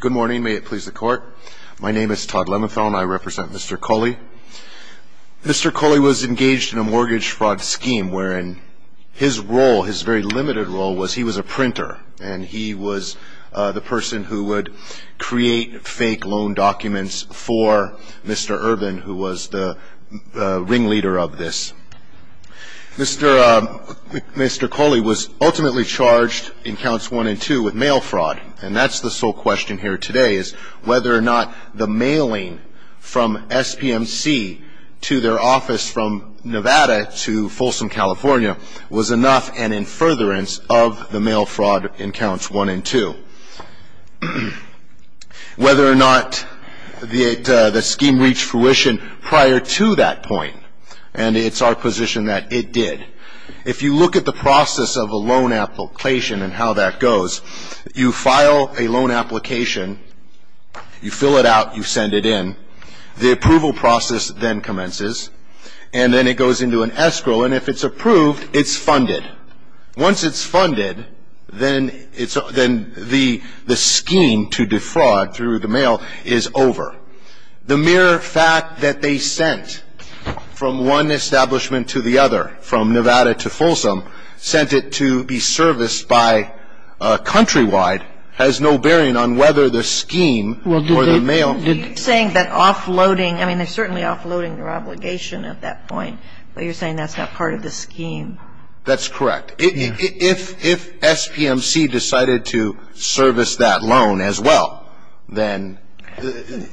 Good morning. May it please the court. My name is Todd Lemethal and I represent Mr. Cauley. Mr. Cauley was engaged in a mortgage fraud scheme wherein his role, his very limited role, was he was a printer. And he was the person who would create fake loan documents for Mr. Urban, who was the ringleader of this. Mr. Cauley was ultimately charged in Counts 1 and 2 with mail fraud. And that's the sole question here today is whether or not the mailing from SPMC to their office from Nevada to Folsom, California, was enough and in furtherance of the mail fraud in Counts 1 and 2. Whether or not the scheme reached fruition prior to that point. And it's our position that it did. If you look at the process of a loan application and how that goes, you file a loan application, you fill it out, you send it in. The approval process then commences. And then it goes into an escrow. And if it's approved, it's funded. Once it's funded, then it's the scheme to defraud through the mail is over. The mere fact that they sent from one establishment to the other, from Nevada to Folsom, sent it to be serviced by Countrywide, has no bearing on whether the scheme or the mail. You're saying that offloading, I mean, they're certainly offloading their obligation at that point, but you're saying that's not part of the scheme. That's correct. If SPMC decided to service that loan as well, then...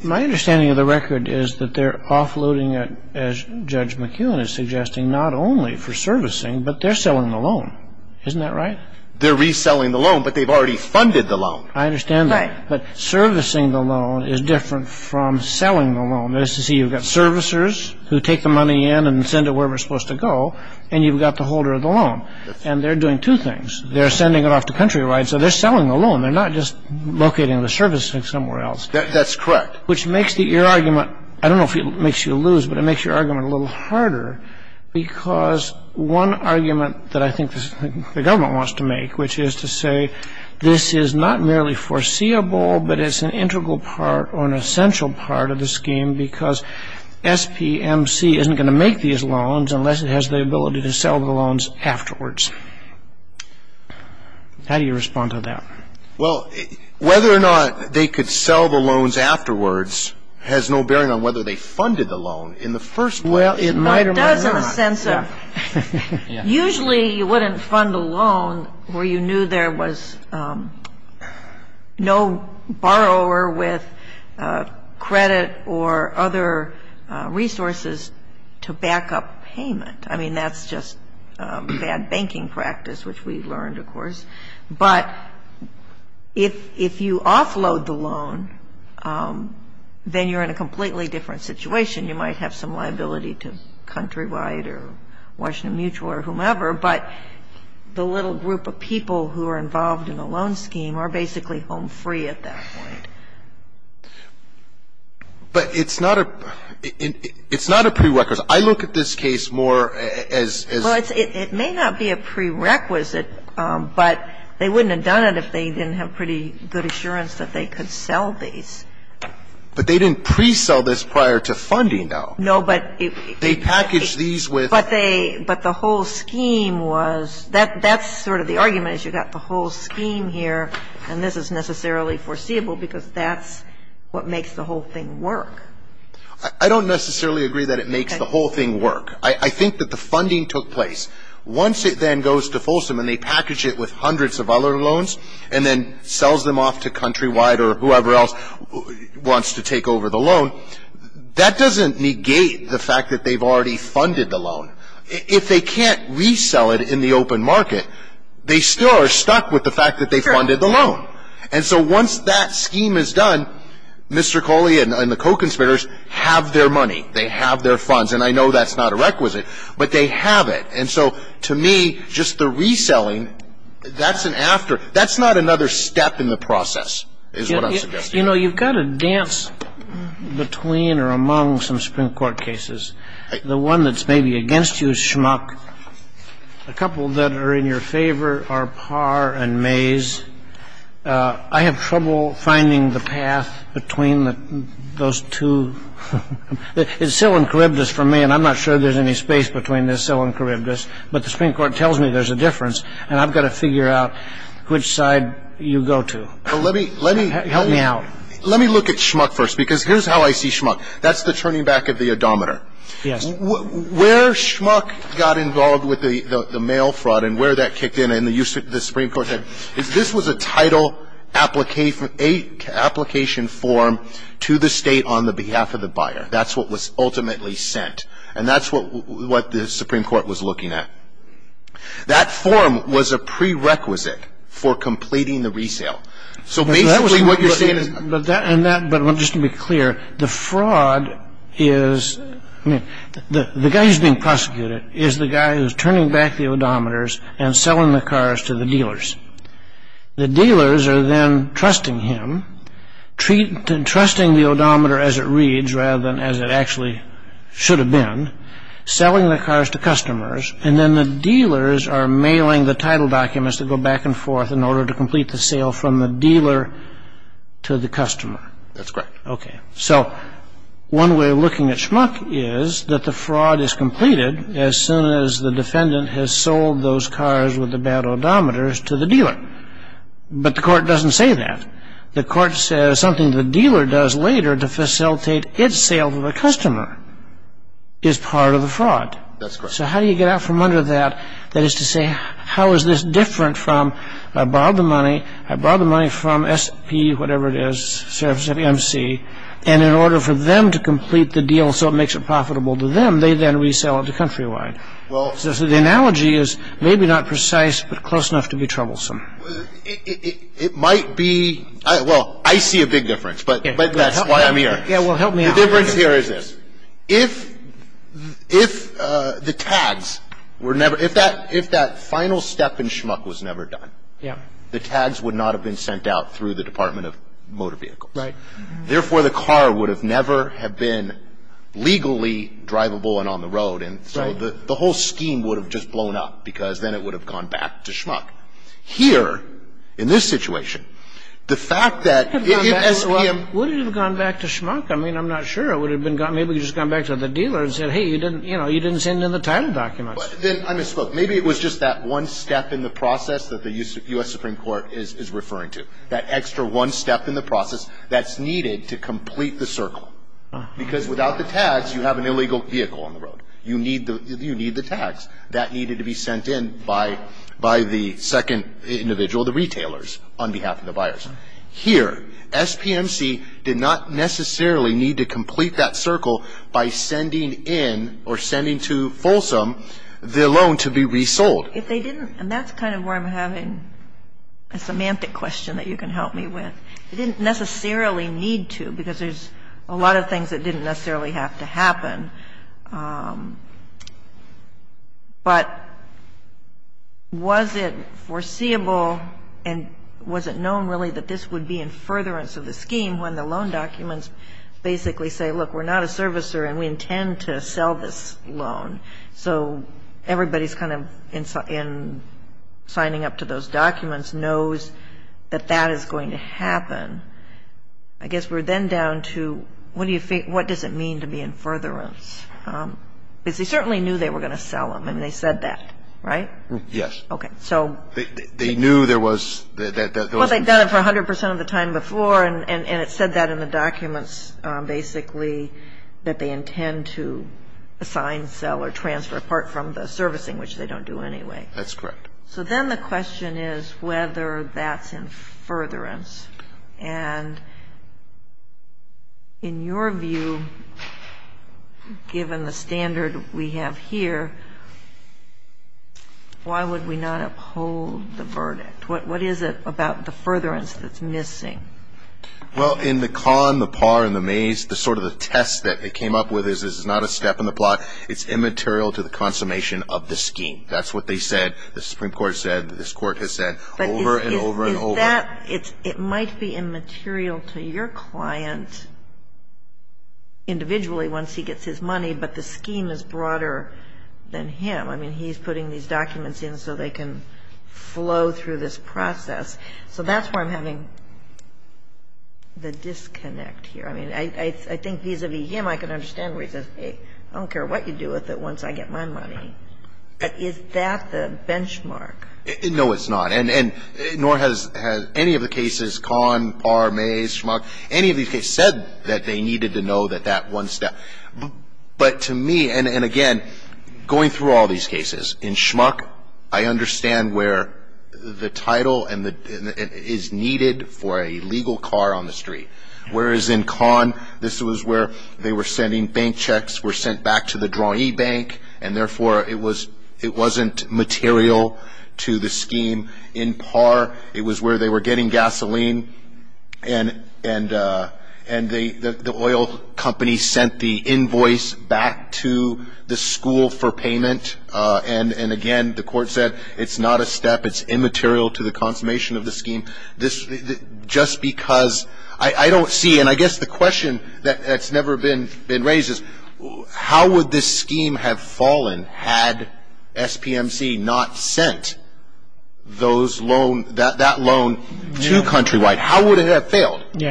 My understanding of the record is that they're offloading it, as Judge McKeown is suggesting, not only for servicing, but they're selling the loan. Isn't that right? They're reselling the loan, but they've already funded the loan. I understand that. But servicing the loan is different from selling the loan. That is to say, you've got servicers who take the money in and send it where we're supposed to go, and you've got the holder of the loan. And they're doing two things. They're sending it off to Countrywide, so they're selling the loan. They're not just locating the service somewhere else. That's correct. Which makes your argument, I don't know if it makes you lose, but it makes your argument a little harder, because one argument that I think the government wants to make, which is to say, this is not merely foreseeable, but it's an integral part or an essential part of the scheme, because SPMC isn't going to make these loans unless it has the ability to sell the loans afterwards. How do you respond to that? Well, whether or not they could sell the loans afterwards has no bearing on whether they funded the loan in the first place. Well, it might or might not. Usually you wouldn't fund a loan where you knew there was no borrower with credit or other resources to back up payment. I mean, that's just bad banking practice, which we learned, of course. But if you offload the loan, then you're in a completely different situation. You might have some liability to Countrywide or Washington Mutual or whomever, but the little group of people who are involved in the loan scheme are basically home free at that point. But it's not a prerequisite. I look at this case more as as... Well, it may not be a prerequisite, but they wouldn't have done it if they didn't have pretty good assurance that they could sell these. But they didn't pre-sell this prior to funding, though. No, but... They packaged these with... But they – but the whole scheme was – that's sort of the argument is you've got the whole scheme here, and this is necessarily foreseeable because that's what makes the whole thing work. I don't necessarily agree that it makes the whole thing work. I think that the funding took place. Once it then goes to Folsom and they package it with hundreds of other loans and then sells them off to Countrywide or whoever else wants to take over the loan, that doesn't negate the fact that they've already funded the loan. If they can't resell it in the open market, they still are stuck with the fact that they funded the loan. And so once that scheme is done, Mr. Coley and the co-conspirators have their money. They have their funds, and I know that's not a requisite, but they have it. And so to me, just the reselling, that's an after – that's not another step in the process is what I'm suggesting. You know, you've got to dance between or among some Supreme Court cases. The one that's maybe against you is Schmuck. A couple that are in your favor are Parr and Mays. I have trouble finding the path between those two. It's Sill and Charybdis for me, and I'm not sure there's any space between this Sill and Charybdis, but the Supreme Court tells me there's a difference, and I've got to figure out which side you go to. Help me out. Let me look at Schmuck first, because here's how I see Schmuck. That's the turning back of the odometer. Yes. Where Schmuck got involved with the mail fraud and where that kicked in and the Supreme Court said, this was a title application form to the state on the behalf of the buyer. That's what was ultimately sent, and that's what the Supreme Court was looking at. That form was a prerequisite for completing the resale. So basically what you're saying is – And that – but just to be clear, the fraud is – the guy who's being prosecuted is the guy who's turning back the odometers and selling the cars to the dealers. The dealers are then trusting him, trusting the odometer as it reads rather than as it actually should have been, selling the cars to customers, and then the dealers are mailing the title documents that go back and forth in order to complete the sale from the dealer to the customer. That's correct. Okay. So one way of looking at Schmuck is that the fraud is completed as soon as the defendant has sold those cars with the bad odometers to the dealer. But the court doesn't say that. The court says something the dealer does later to facilitate its sale to the customer is part of the fraud. That's correct. So how do you get out from under that, that is to say, how is this different from, I borrowed the money. I borrowed the money from SP, whatever it is, service at MC, and in order for them to complete the deal so it makes it profitable to them, they then resell it to Countrywide. So the analogy is maybe not precise but close enough to be troublesome. It might be – well, I see a big difference, but that's why I'm here. Yeah, well, help me out. The difference here is this. If the tags were never – if that final step in Schmuck was never done, the tags would not have been sent out through the Department of Motor Vehicles. Right. Therefore, the car would have never have been legally drivable and on the road, and so the whole scheme would have just blown up because then it would have gone back to Schmuck. Here, in this situation, the fact that if SPM – it would have gone back to Schmuck. I mean, I'm not sure. It would have been – maybe it would have just gone back to the dealer and said, hey, you didn't send in the title documents. I misspoke. Maybe it was just that one step in the process that the U.S. Supreme Court is referring to, that extra one step in the process that's needed to complete the circle because without the tags, you have an illegal vehicle on the road. You need the tags. That needed to be sent in by the second individual, the retailers, on behalf of the buyers. Here, SPMC did not necessarily need to complete that circle by sending in or sending to Folsom the loan to be resold. If they didn't – and that's kind of where I'm having a semantic question that you can help me with. They didn't necessarily need to because there's a lot of things that didn't necessarily have to happen. But was it foreseeable and was it known really that this would be in furtherance of the scheme when the loan documents basically say, look, we're not a servicer and we intend to sell this loan. So everybody's kind of in signing up to those documents knows that that is going to happen. I guess we're then down to what do you think – what does it mean to be in furtherance? Because they certainly knew they were going to sell them and they said that, right? Yes. Okay. They knew there was – Well, they've done it for 100 percent of the time before and it said that in the documents basically that they intend to assign, sell, or transfer apart from the servicing, which they don't do anyway. That's correct. So then the question is whether that's in furtherance. And in your view, given the standard we have here, why would we not uphold the verdict? What is it about the furtherance that's missing? Well, in the con, the par, and the maze, the sort of the test that they came up with is this is not a step in the plot. It's immaterial to the consummation of the scheme. That's what they said, the Supreme Court said, this Court has said over and over and over. Is that – it might be immaterial to your client individually once he gets his money, but the scheme is broader than him. I mean, he's putting these documents in so they can flow through this process. So that's where I'm having the disconnect here. I mean, I think vis-a-vis him, I can understand where he says, I don't care what you do with it once I get my money. Is that the benchmark? No, it's not. And nor has any of the cases, con, par, maze, schmuck, any of these cases said that they needed to know that that one step. But to me, and again, going through all these cases, in schmuck, I understand where the title is needed for a legal car on the street. Whereas in con, this was where they were sending bank checks, were sent back to the drawee bank, and therefore it wasn't material to the scheme. In par, it was where they were getting gasoline, and the oil company sent the invoice back to the school for payment. And again, the Court said, it's not a step. It's immaterial to the consummation of the scheme. Just because I don't see, and I guess the question that's never been raised is, how would this scheme have fallen had SPMC not sent that loan to Countrywide? How would it have failed? And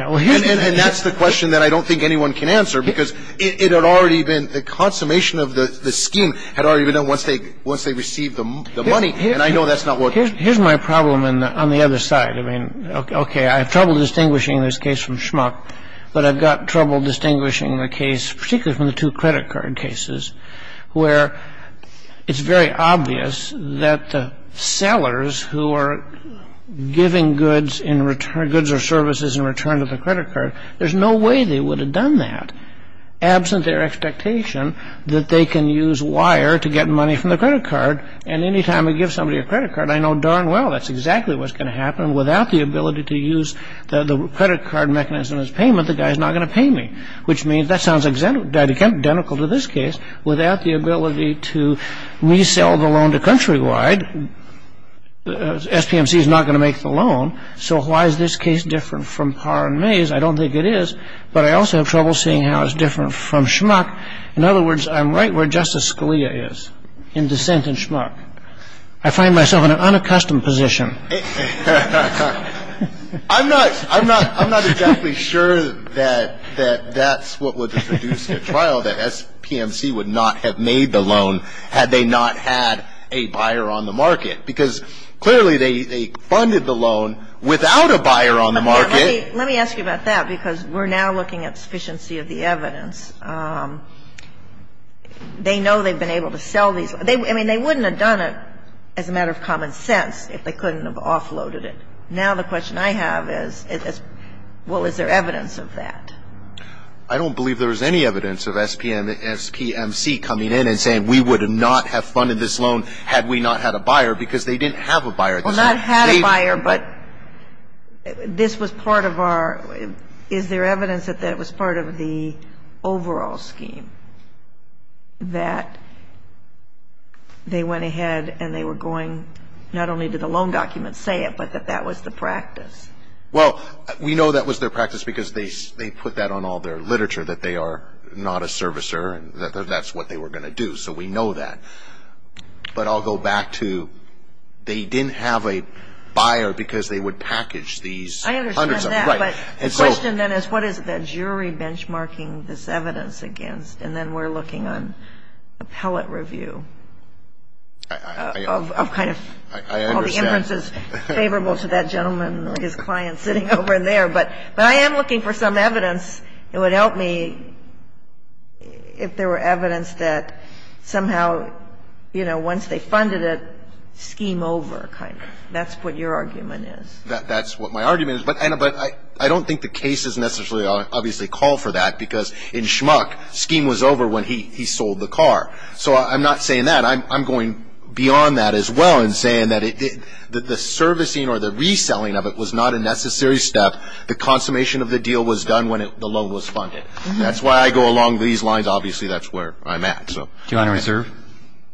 that's the question that I don't think anyone can answer because it had already been, the consummation of the scheme had already been done once they received the money, and I know that's not what. Here's my problem on the other side. I mean, okay, I have trouble distinguishing this case from schmuck, but I've got trouble distinguishing the case, particularly from the two credit card cases, where it's very obvious that the sellers who are giving goods or services in return to the credit card, there's no way they would have done that, absent their expectation that they can use wire to get money from the credit card. And any time I give somebody a credit card, I know darn well that's exactly what's going to happen. Without the ability to use the credit card mechanism as payment, the guy's not going to pay me, which means that sounds identical to this case. Without the ability to resell the loan to Countrywide, SPMC is not going to make the loan. So why is this case different from Parr and Mays? I don't think it is, but I also have trouble seeing how it's different from schmuck. In other words, I'm right where Justice Scalia is, in dissent and schmuck. I find myself in an unaccustomed position. I'm not exactly sure that that's what would have produced a trial, that SPMC would not have made the loan had they not had a buyer on the market, because clearly they funded the loan without a buyer on the market. Let me ask you about that, because we're now looking at sufficiency of the evidence. They know they've been able to sell these. I mean, they wouldn't have done it as a matter of common sense if they couldn't have offloaded it. Now the question I have is, well, is there evidence of that? I don't believe there is any evidence of SPMC coming in and saying, we would not have funded this loan had we not had a buyer, because they didn't have a buyer. Well, not had a buyer, but this was part of our – is there evidence that that was part of the overall scheme, that they went ahead and they were going not only to the loan documents say it, but that that was the practice? Well, we know that was their practice because they put that on all their literature, that they are not a servicer and that that's what they were going to do. So we know that. But I'll go back to they didn't have a buyer because they would package these hundreds of – I understand that. Right. And so – The question then is, what is the jury benchmarking this evidence against? And then we're looking on appellate review of kind of – I understand. All the inferences favorable to that gentleman or his client sitting over there. But I am looking for some evidence. It would help me if there were evidence that somehow, you know, once they funded it, scheme over kind of. That's what your argument is. That's what my argument is. But I don't think the cases necessarily obviously call for that because in Schmuck, scheme was over when he sold the car. So I'm not saying that. I'm going beyond that as well and saying that the servicing or the reselling of it was not a necessary step. The consummation of the deal was done when the loan was funded. That's why I go along these lines. Obviously, that's where I'm at. Do you want to reserve?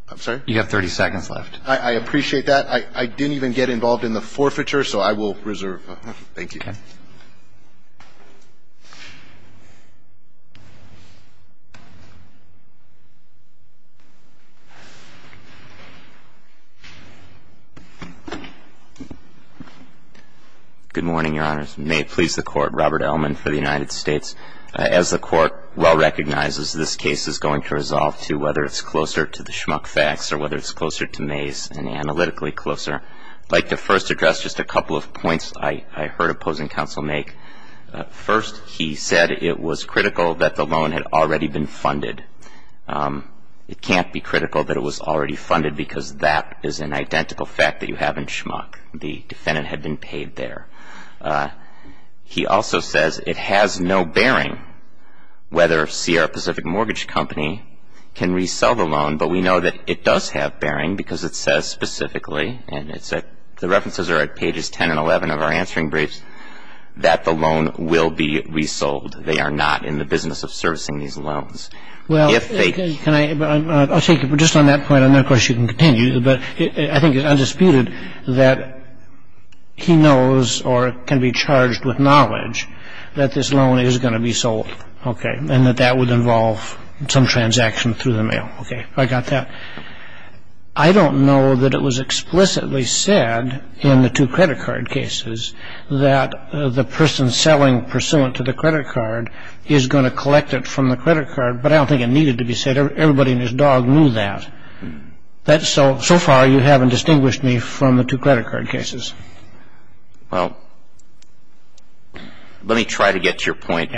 I'm sorry? You have 30 seconds left. I appreciate that. I didn't even get involved in the forfeiture, so I will reserve. Thank you. Okay. Good morning, Your Honors. May it please the Court. Robert Ellman for the United States. As the Court well recognizes, this case is going to resolve to whether it's closer to the Schmuck facts or whether it's closer to May's and analytically closer. I'd like to first address just a couple of points I heard opposing counsel make. First, he said it was critical that the loan had already been funded. It can't be critical that it was already funded because that is an identical fact that you have in Schmuck. The defendant had been paid there. He also says it has no bearing whether Sierra Pacific Mortgage Company can resell the loan, but we know that it does have bearing because it says specifically, and the references are at pages 10 and 11 of our answering briefs, that the loan will be resold. They are not in the business of servicing these loans. Well, I'll take it. But just on that point, I know, of course, you can continue, but I think it's undisputed that he knows or can be charged with knowledge that this loan is going to be sold, okay, and that that would involve some transaction through the mail. Okay, I got that. I don't know that it was explicitly said in the two credit card cases that the person selling pursuant to the credit card is going to collect it from the credit card, but I don't think it needed to be said. Everybody and his dog knew that. So far, you haven't distinguished me from the two credit card cases. Well, let me try to get to your point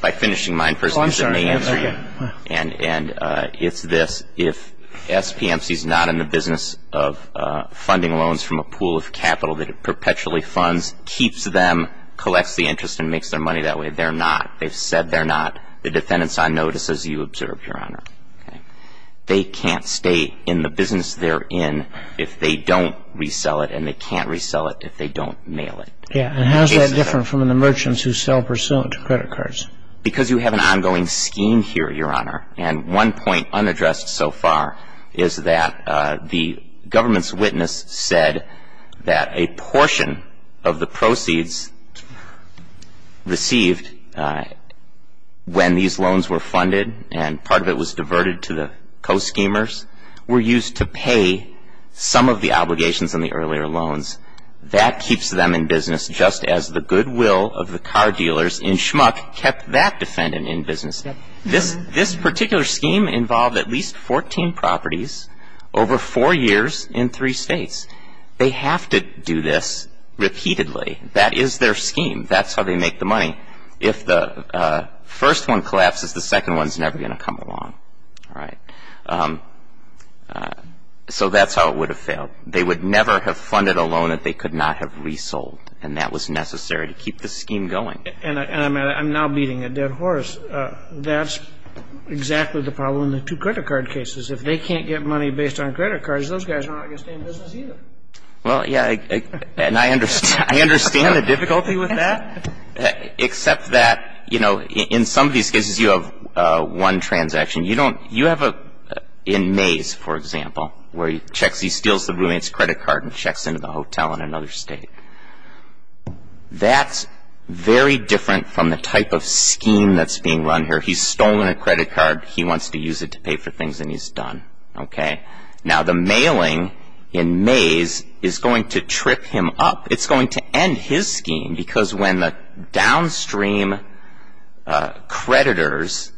by finishing mine first because it may answer you. Okay. And it's this. If SPMC is not in the business of funding loans from a pool of capital that it perpetually funds, keeps them, collects the interest, and makes their money that way, they're not. They've said they're not. The defendant's on notice, as you observed, Your Honor. They can't stay in the business they're in if they don't resell it, and they can't resell it if they don't mail it. Yeah, and how is that different from the merchants who sell pursuant to credit cards? Because you have an ongoing scheme here, Your Honor, and one point unaddressed so far is that the government's witness said that a portion of the proceeds received when these loans were funded and part of it was diverted to the co-schemers were used to pay some of the obligations on the earlier loans. That keeps them in business just as the goodwill of the car dealers in Schmuck kept that defendant in business. This particular scheme involved at least 14 properties over four years in three states. They have to do this repeatedly. That is their scheme. That's how they make the money. If the first one collapses, the second one's never going to come along. All right. So that's how it would have failed. They would never have funded a loan that they could not have resold, and that was necessary to keep the scheme going. And I'm now beating a dead horse. That's exactly the problem in the two credit card cases. If they can't get money based on credit cards, those guys are not going to stay in business either. Well, yeah, and I understand the difficulty with that, except that, you know, in some of these cases you have one transaction. You have in Mays, for example, where he steals the roommate's credit card and checks into the hotel in another state. That's very different from the type of scheme that's being run here. He's stolen a credit card. He wants to use it to pay for things, and he's done. Now, the mailing in Mays is going to trip him up. It's going to end his scheme because when the downstream creditors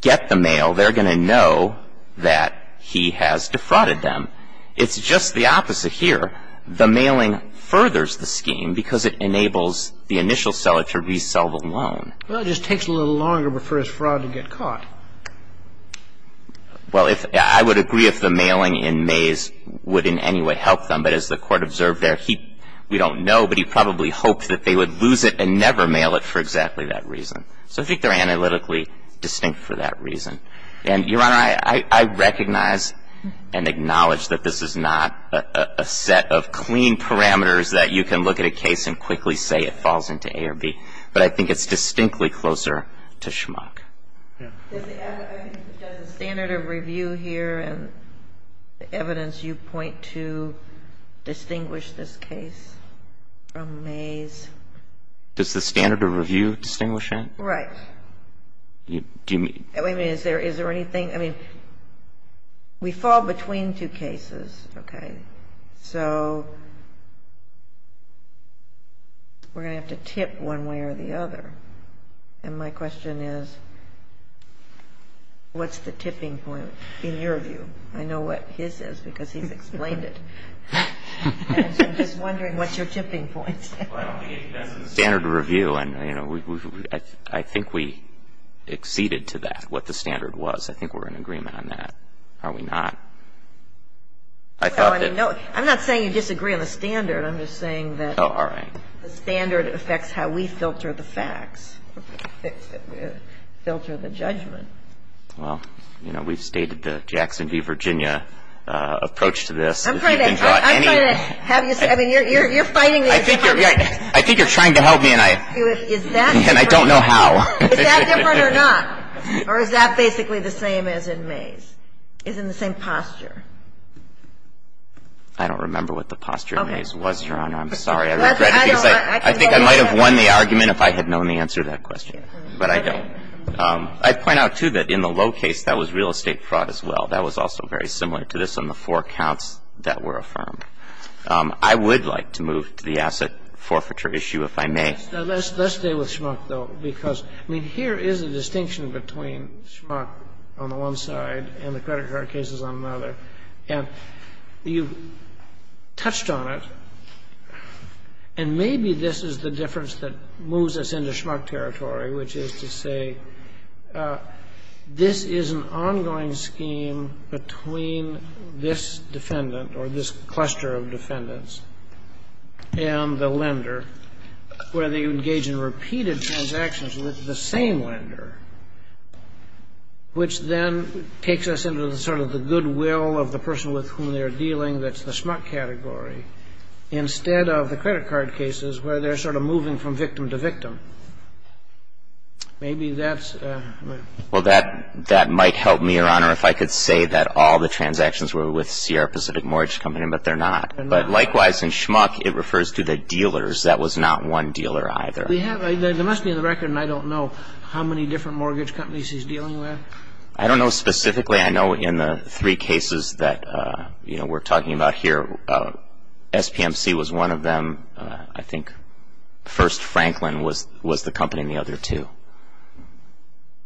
get the mail, they're going to know that he has defrauded them. It's just the opposite here. The mailing furthers the scheme because it enables the initial seller to resell the loan. Well, it just takes a little longer for his fraud to get caught. Well, I would agree if the mailing in Mays would in any way help them, but as the Court observed there, we don't know, but he probably hoped that they would lose it and never mail it for exactly that reason. So I think they're analytically distinct for that reason. And, Your Honor, I recognize and acknowledge that this is not a set of clean parameters that you can look at a case and quickly say it falls into A or B, but I think it's distinctly closer to Schmock. Does the standard of review here and the evidence you point to distinguish this case from Mays? Does the standard of review distinguish it? Right. Wait a minute. Is there anything? I mean, we fall between two cases, okay? So we're going to have to tip one way or the other. And my question is, what's the tipping point in your view? I know what his is because he's explained it. And so I'm just wondering what's your tipping point? Well, I don't think it depends on the standard of review. And, you know, I think we acceded to that, what the standard was. I think we're in agreement on that. Are we not? I thought that no. I'm not saying you disagree on the standard. I'm just saying that the standard affects how we filter the facts. Filter the judgment. Well, you know, we've stated the Jackson v. Virginia approach to this. I'm trying to have you say. I mean, you're fighting me. I think you're trying to help me, and I don't know how. Is that different or not? Or is that basically the same as in Mays, is in the same posture? I don't remember what the posture in Mays was, Your Honor. I'm sorry. I think I might have won the argument if I had known the answer to that question, but I don't. I'd point out, too, that in the Lowe case, that was real estate fraud as well. That was also very similar to this on the four counts that were affirmed. I would like to move to the asset forfeiture issue, if I may. Let's stay with Schmuck, though, because, I mean, here is a distinction between Schmuck on the one side and the credit card cases on another. You touched on it, and maybe this is the difference that moves us into Schmuck territory, which is to say this is an ongoing scheme between this defendant or this cluster of defendants and the lender, where they engage in repeated transactions with the same lender, which then takes us into sort of the goodwill of the person with whom they are dealing. That's the Schmuck category, instead of the credit card cases, where they're sort of moving from victim to victim. Maybe that's... Well, that might help me, Your Honor, if I could say that all the transactions were with Sierra Pacific Mortgage Company, but they're not. But likewise, in Schmuck, it refers to the dealers. That was not one dealer either. There must be on the record, and I don't know, how many different mortgage companies he's dealing with. I don't know specifically. I know in the three cases that we're talking about here, SPMC was one of them. I think First Franklin was the company in the other two.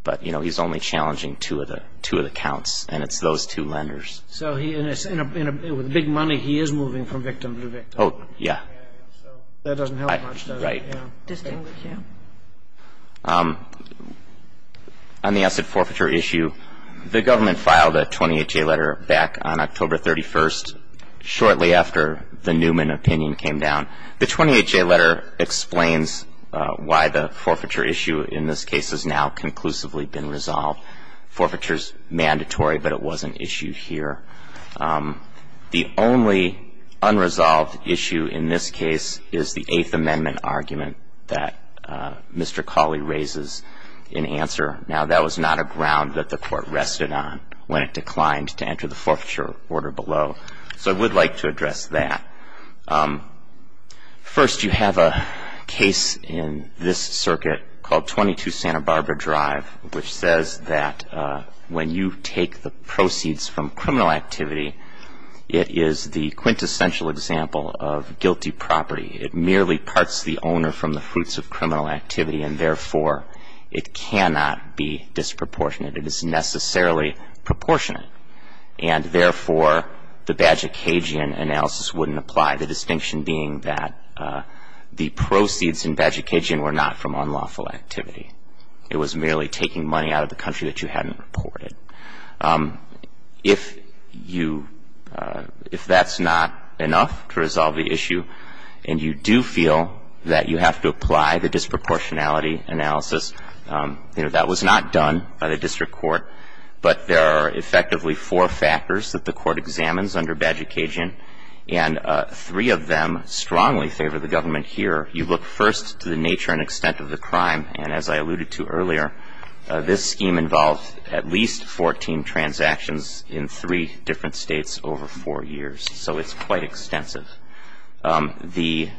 But he's only challenging two of the counts, and it's those two lenders. So with big money, he is moving from victim to victim. Oh, yeah. That doesn't help much, does it? Right. On the asset forfeiture issue, the government filed a 28-J letter back on October 31st, shortly after the Newman opinion came down. The 28-J letter explains why the forfeiture issue in this case has now conclusively been resolved. Forfeiture is mandatory, but it was an issue here. The only unresolved issue in this case is the Eighth Amendment argument that Mr. Cawley raises in answer. Now, that was not a ground that the court rested on when it declined to enter the forfeiture order below. So I would like to address that. First, you have a case in this circuit called 22 Santa Barbara Drive, which says that when you take the proceeds from criminal activity, it is the quintessential example of guilty property. It merely parts the owner from the fruits of criminal activity, and, therefore, it cannot be disproportionate. It is necessarily proportionate. And, therefore, the Badge of Cajun analysis wouldn't apply, the distinction being that the proceeds in Badge of Cajun were not from unlawful activity. It was merely taking money out of the country that you hadn't reported. If you — if that's not enough to resolve the issue, and you do feel that you have to apply the disproportionality analysis, you know, that was not done by the district court, but there are effectively four factors that the court examines under Badge of Cajun, and three of them strongly favor the government here. You look first to the nature and extent of the crime, and as I alluded to earlier, this scheme involved at least 14 transactions in three different states over four years. So it's quite extensive. The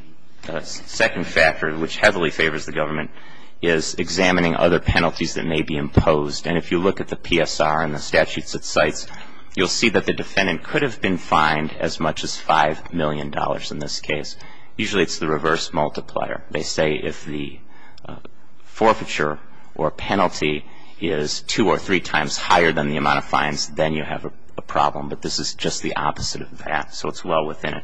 second factor, which heavily favors the government, is examining other penalties that may be imposed. And if you look at the PSR and the statutes it cites, you'll see that the defendant could have been fined as much as $5 million in this case. Usually it's the reverse multiplier. They say if the forfeiture or penalty is two or three times higher than the amount of fines, then you have a problem. But this is just the opposite of that, so it's well within it.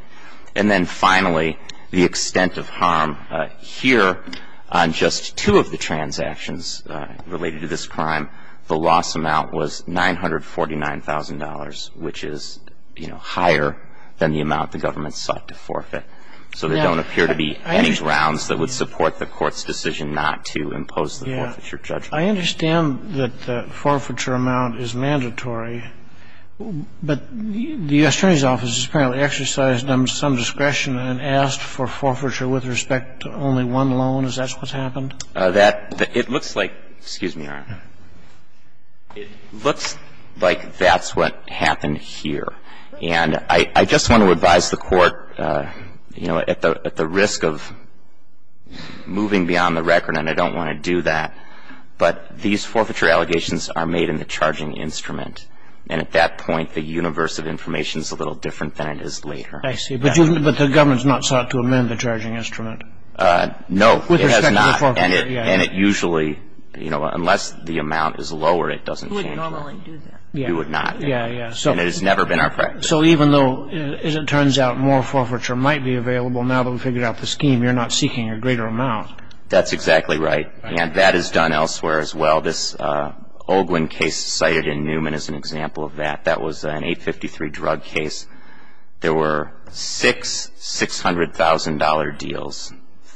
And then finally, the extent of harm here on just two of the transactions related to this crime, the loss amount was $949,000, which is, you know, higher than the amount the government sought to forfeit. So there don't appear to be any grounds that would support the Court's decision not to impose the forfeiture judgment. Yeah. I understand that the forfeiture amount is mandatory, but the U.S. Attorney's Office has apparently exercised some discretion and asked for forfeiture with respect to only one loan. Is that what's happened? That – it looks like – excuse me, Your Honor. It looks like that's what happened here. And I just want to advise the Court, you know, at the risk of moving beyond the record, and I don't want to do that, but these forfeiture allegations are made in the charging instrument. And at that point, the universe of information is a little different than it is later. I see. But the government has not sought to amend the charging instrument? No, it has not. With respect to the forfeiture, yeah. And it usually, you know, unless the amount is lower, it doesn't change. We wouldn't normally do that. We would not. Yeah, yeah. And it has never been our practice. So even though, as it turns out, more forfeiture might be available now that we've figured out the scheme, you're not seeking a greater amount. That's exactly right. And that is done elsewhere as well. This Olguin case cited in Newman is an example of that. That was an 853 drug case. There were six $600,000 deals,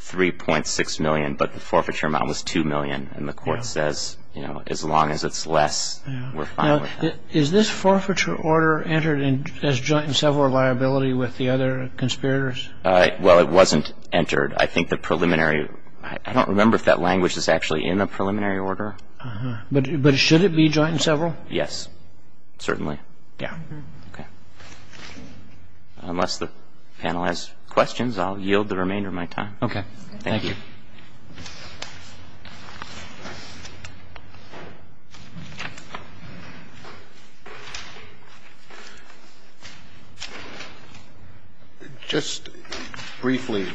$3.6 million, but the forfeiture amount was $2 million. Now, is this forfeiture order entered as joint and several liability with the other conspirators? Well, it wasn't entered. I think the preliminary ‑‑ I don't remember if that language is actually in the preliminary order. But should it be joint and several? Yes. Certainly. Yeah. Okay. Unless the panel has questions, I'll yield the remainder of my time. Okay. Thank you. Thank you. Just briefly,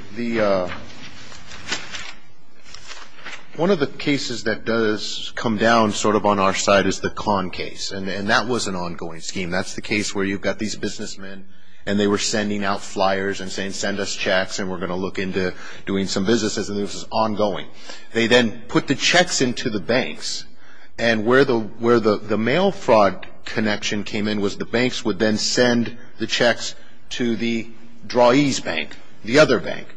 one of the cases that does come down sort of on our side is the Kahn case. And that was an ongoing scheme. That's the case where you've got these businessmen and they were sending out flyers and saying, send us checks and we're going to look into doing some businesses. And this was ongoing. They then put the checks into the banks. And where the mail fraud connection came in was the banks would then send the checks to the drawee's bank, the other bank.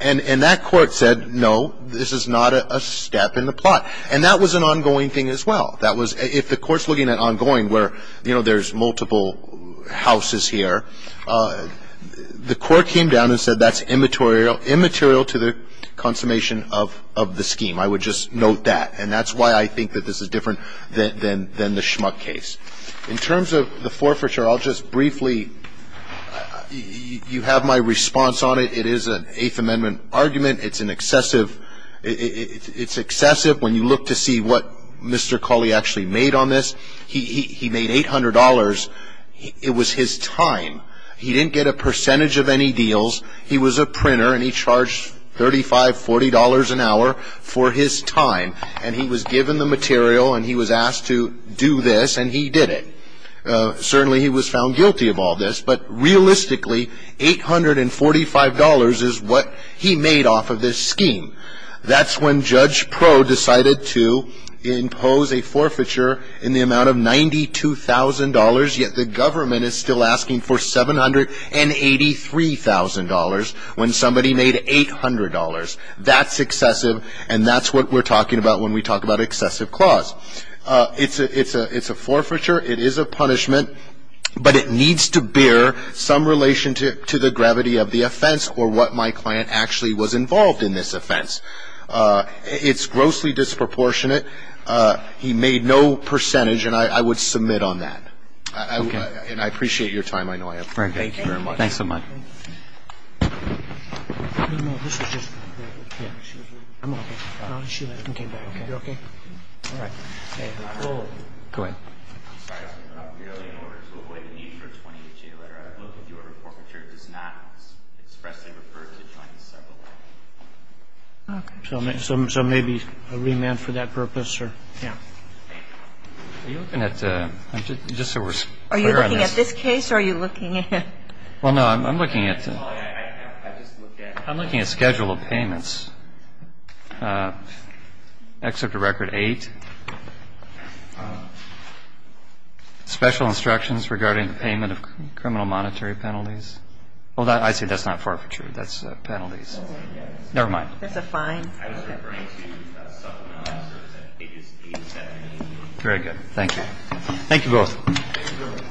And that court said, no, this is not a step in the plot. And that was an ongoing thing as well. If the court's looking at ongoing where, you know, there's multiple houses here, the court came down and said that's immaterial to the consummation of the scheme. I would just note that. And that's why I think that this is different than the Schmuck case. In terms of the forfeiture, I'll just briefly, you have my response on it. It is an Eighth Amendment argument. It's an excessive, it's excessive when you look to see what Mr. Cawley actually made on this. He made $800. It was his time. He didn't get a percentage of any deals. He was a printer, and he charged $35, $40 an hour for his time. And he was given the material, and he was asked to do this, and he did it. Certainly he was found guilty of all this. But realistically, $845 is what he made off of this scheme. That's when Judge Pro decided to impose a forfeiture in the amount of $92,000, yet the government is still asking for $783,000 when somebody made $800. That's excessive, and that's what we're talking about when we talk about excessive clause. It's a forfeiture. It is a punishment, but it needs to bear some relation to the gravity of the offense or what my client actually was involved in this offense. It's grossly disproportionate. He made no percentage, and I would submit on that. And I appreciate your time. I know I have. Thank you very much. Thanks so much. Go ahead. So maybe a remand for that purpose or yes? Just so we're clear on this. Are you looking at this case, or are you looking at the case? Well, no, I'm looking at schedule of payments. Excerpt of record eight. Special instructions regarding payment of criminal monetary penalties. I see that's not forfeiture. That's penalties. Never mind. That's a fine. Very good. Thank you. Thank you both.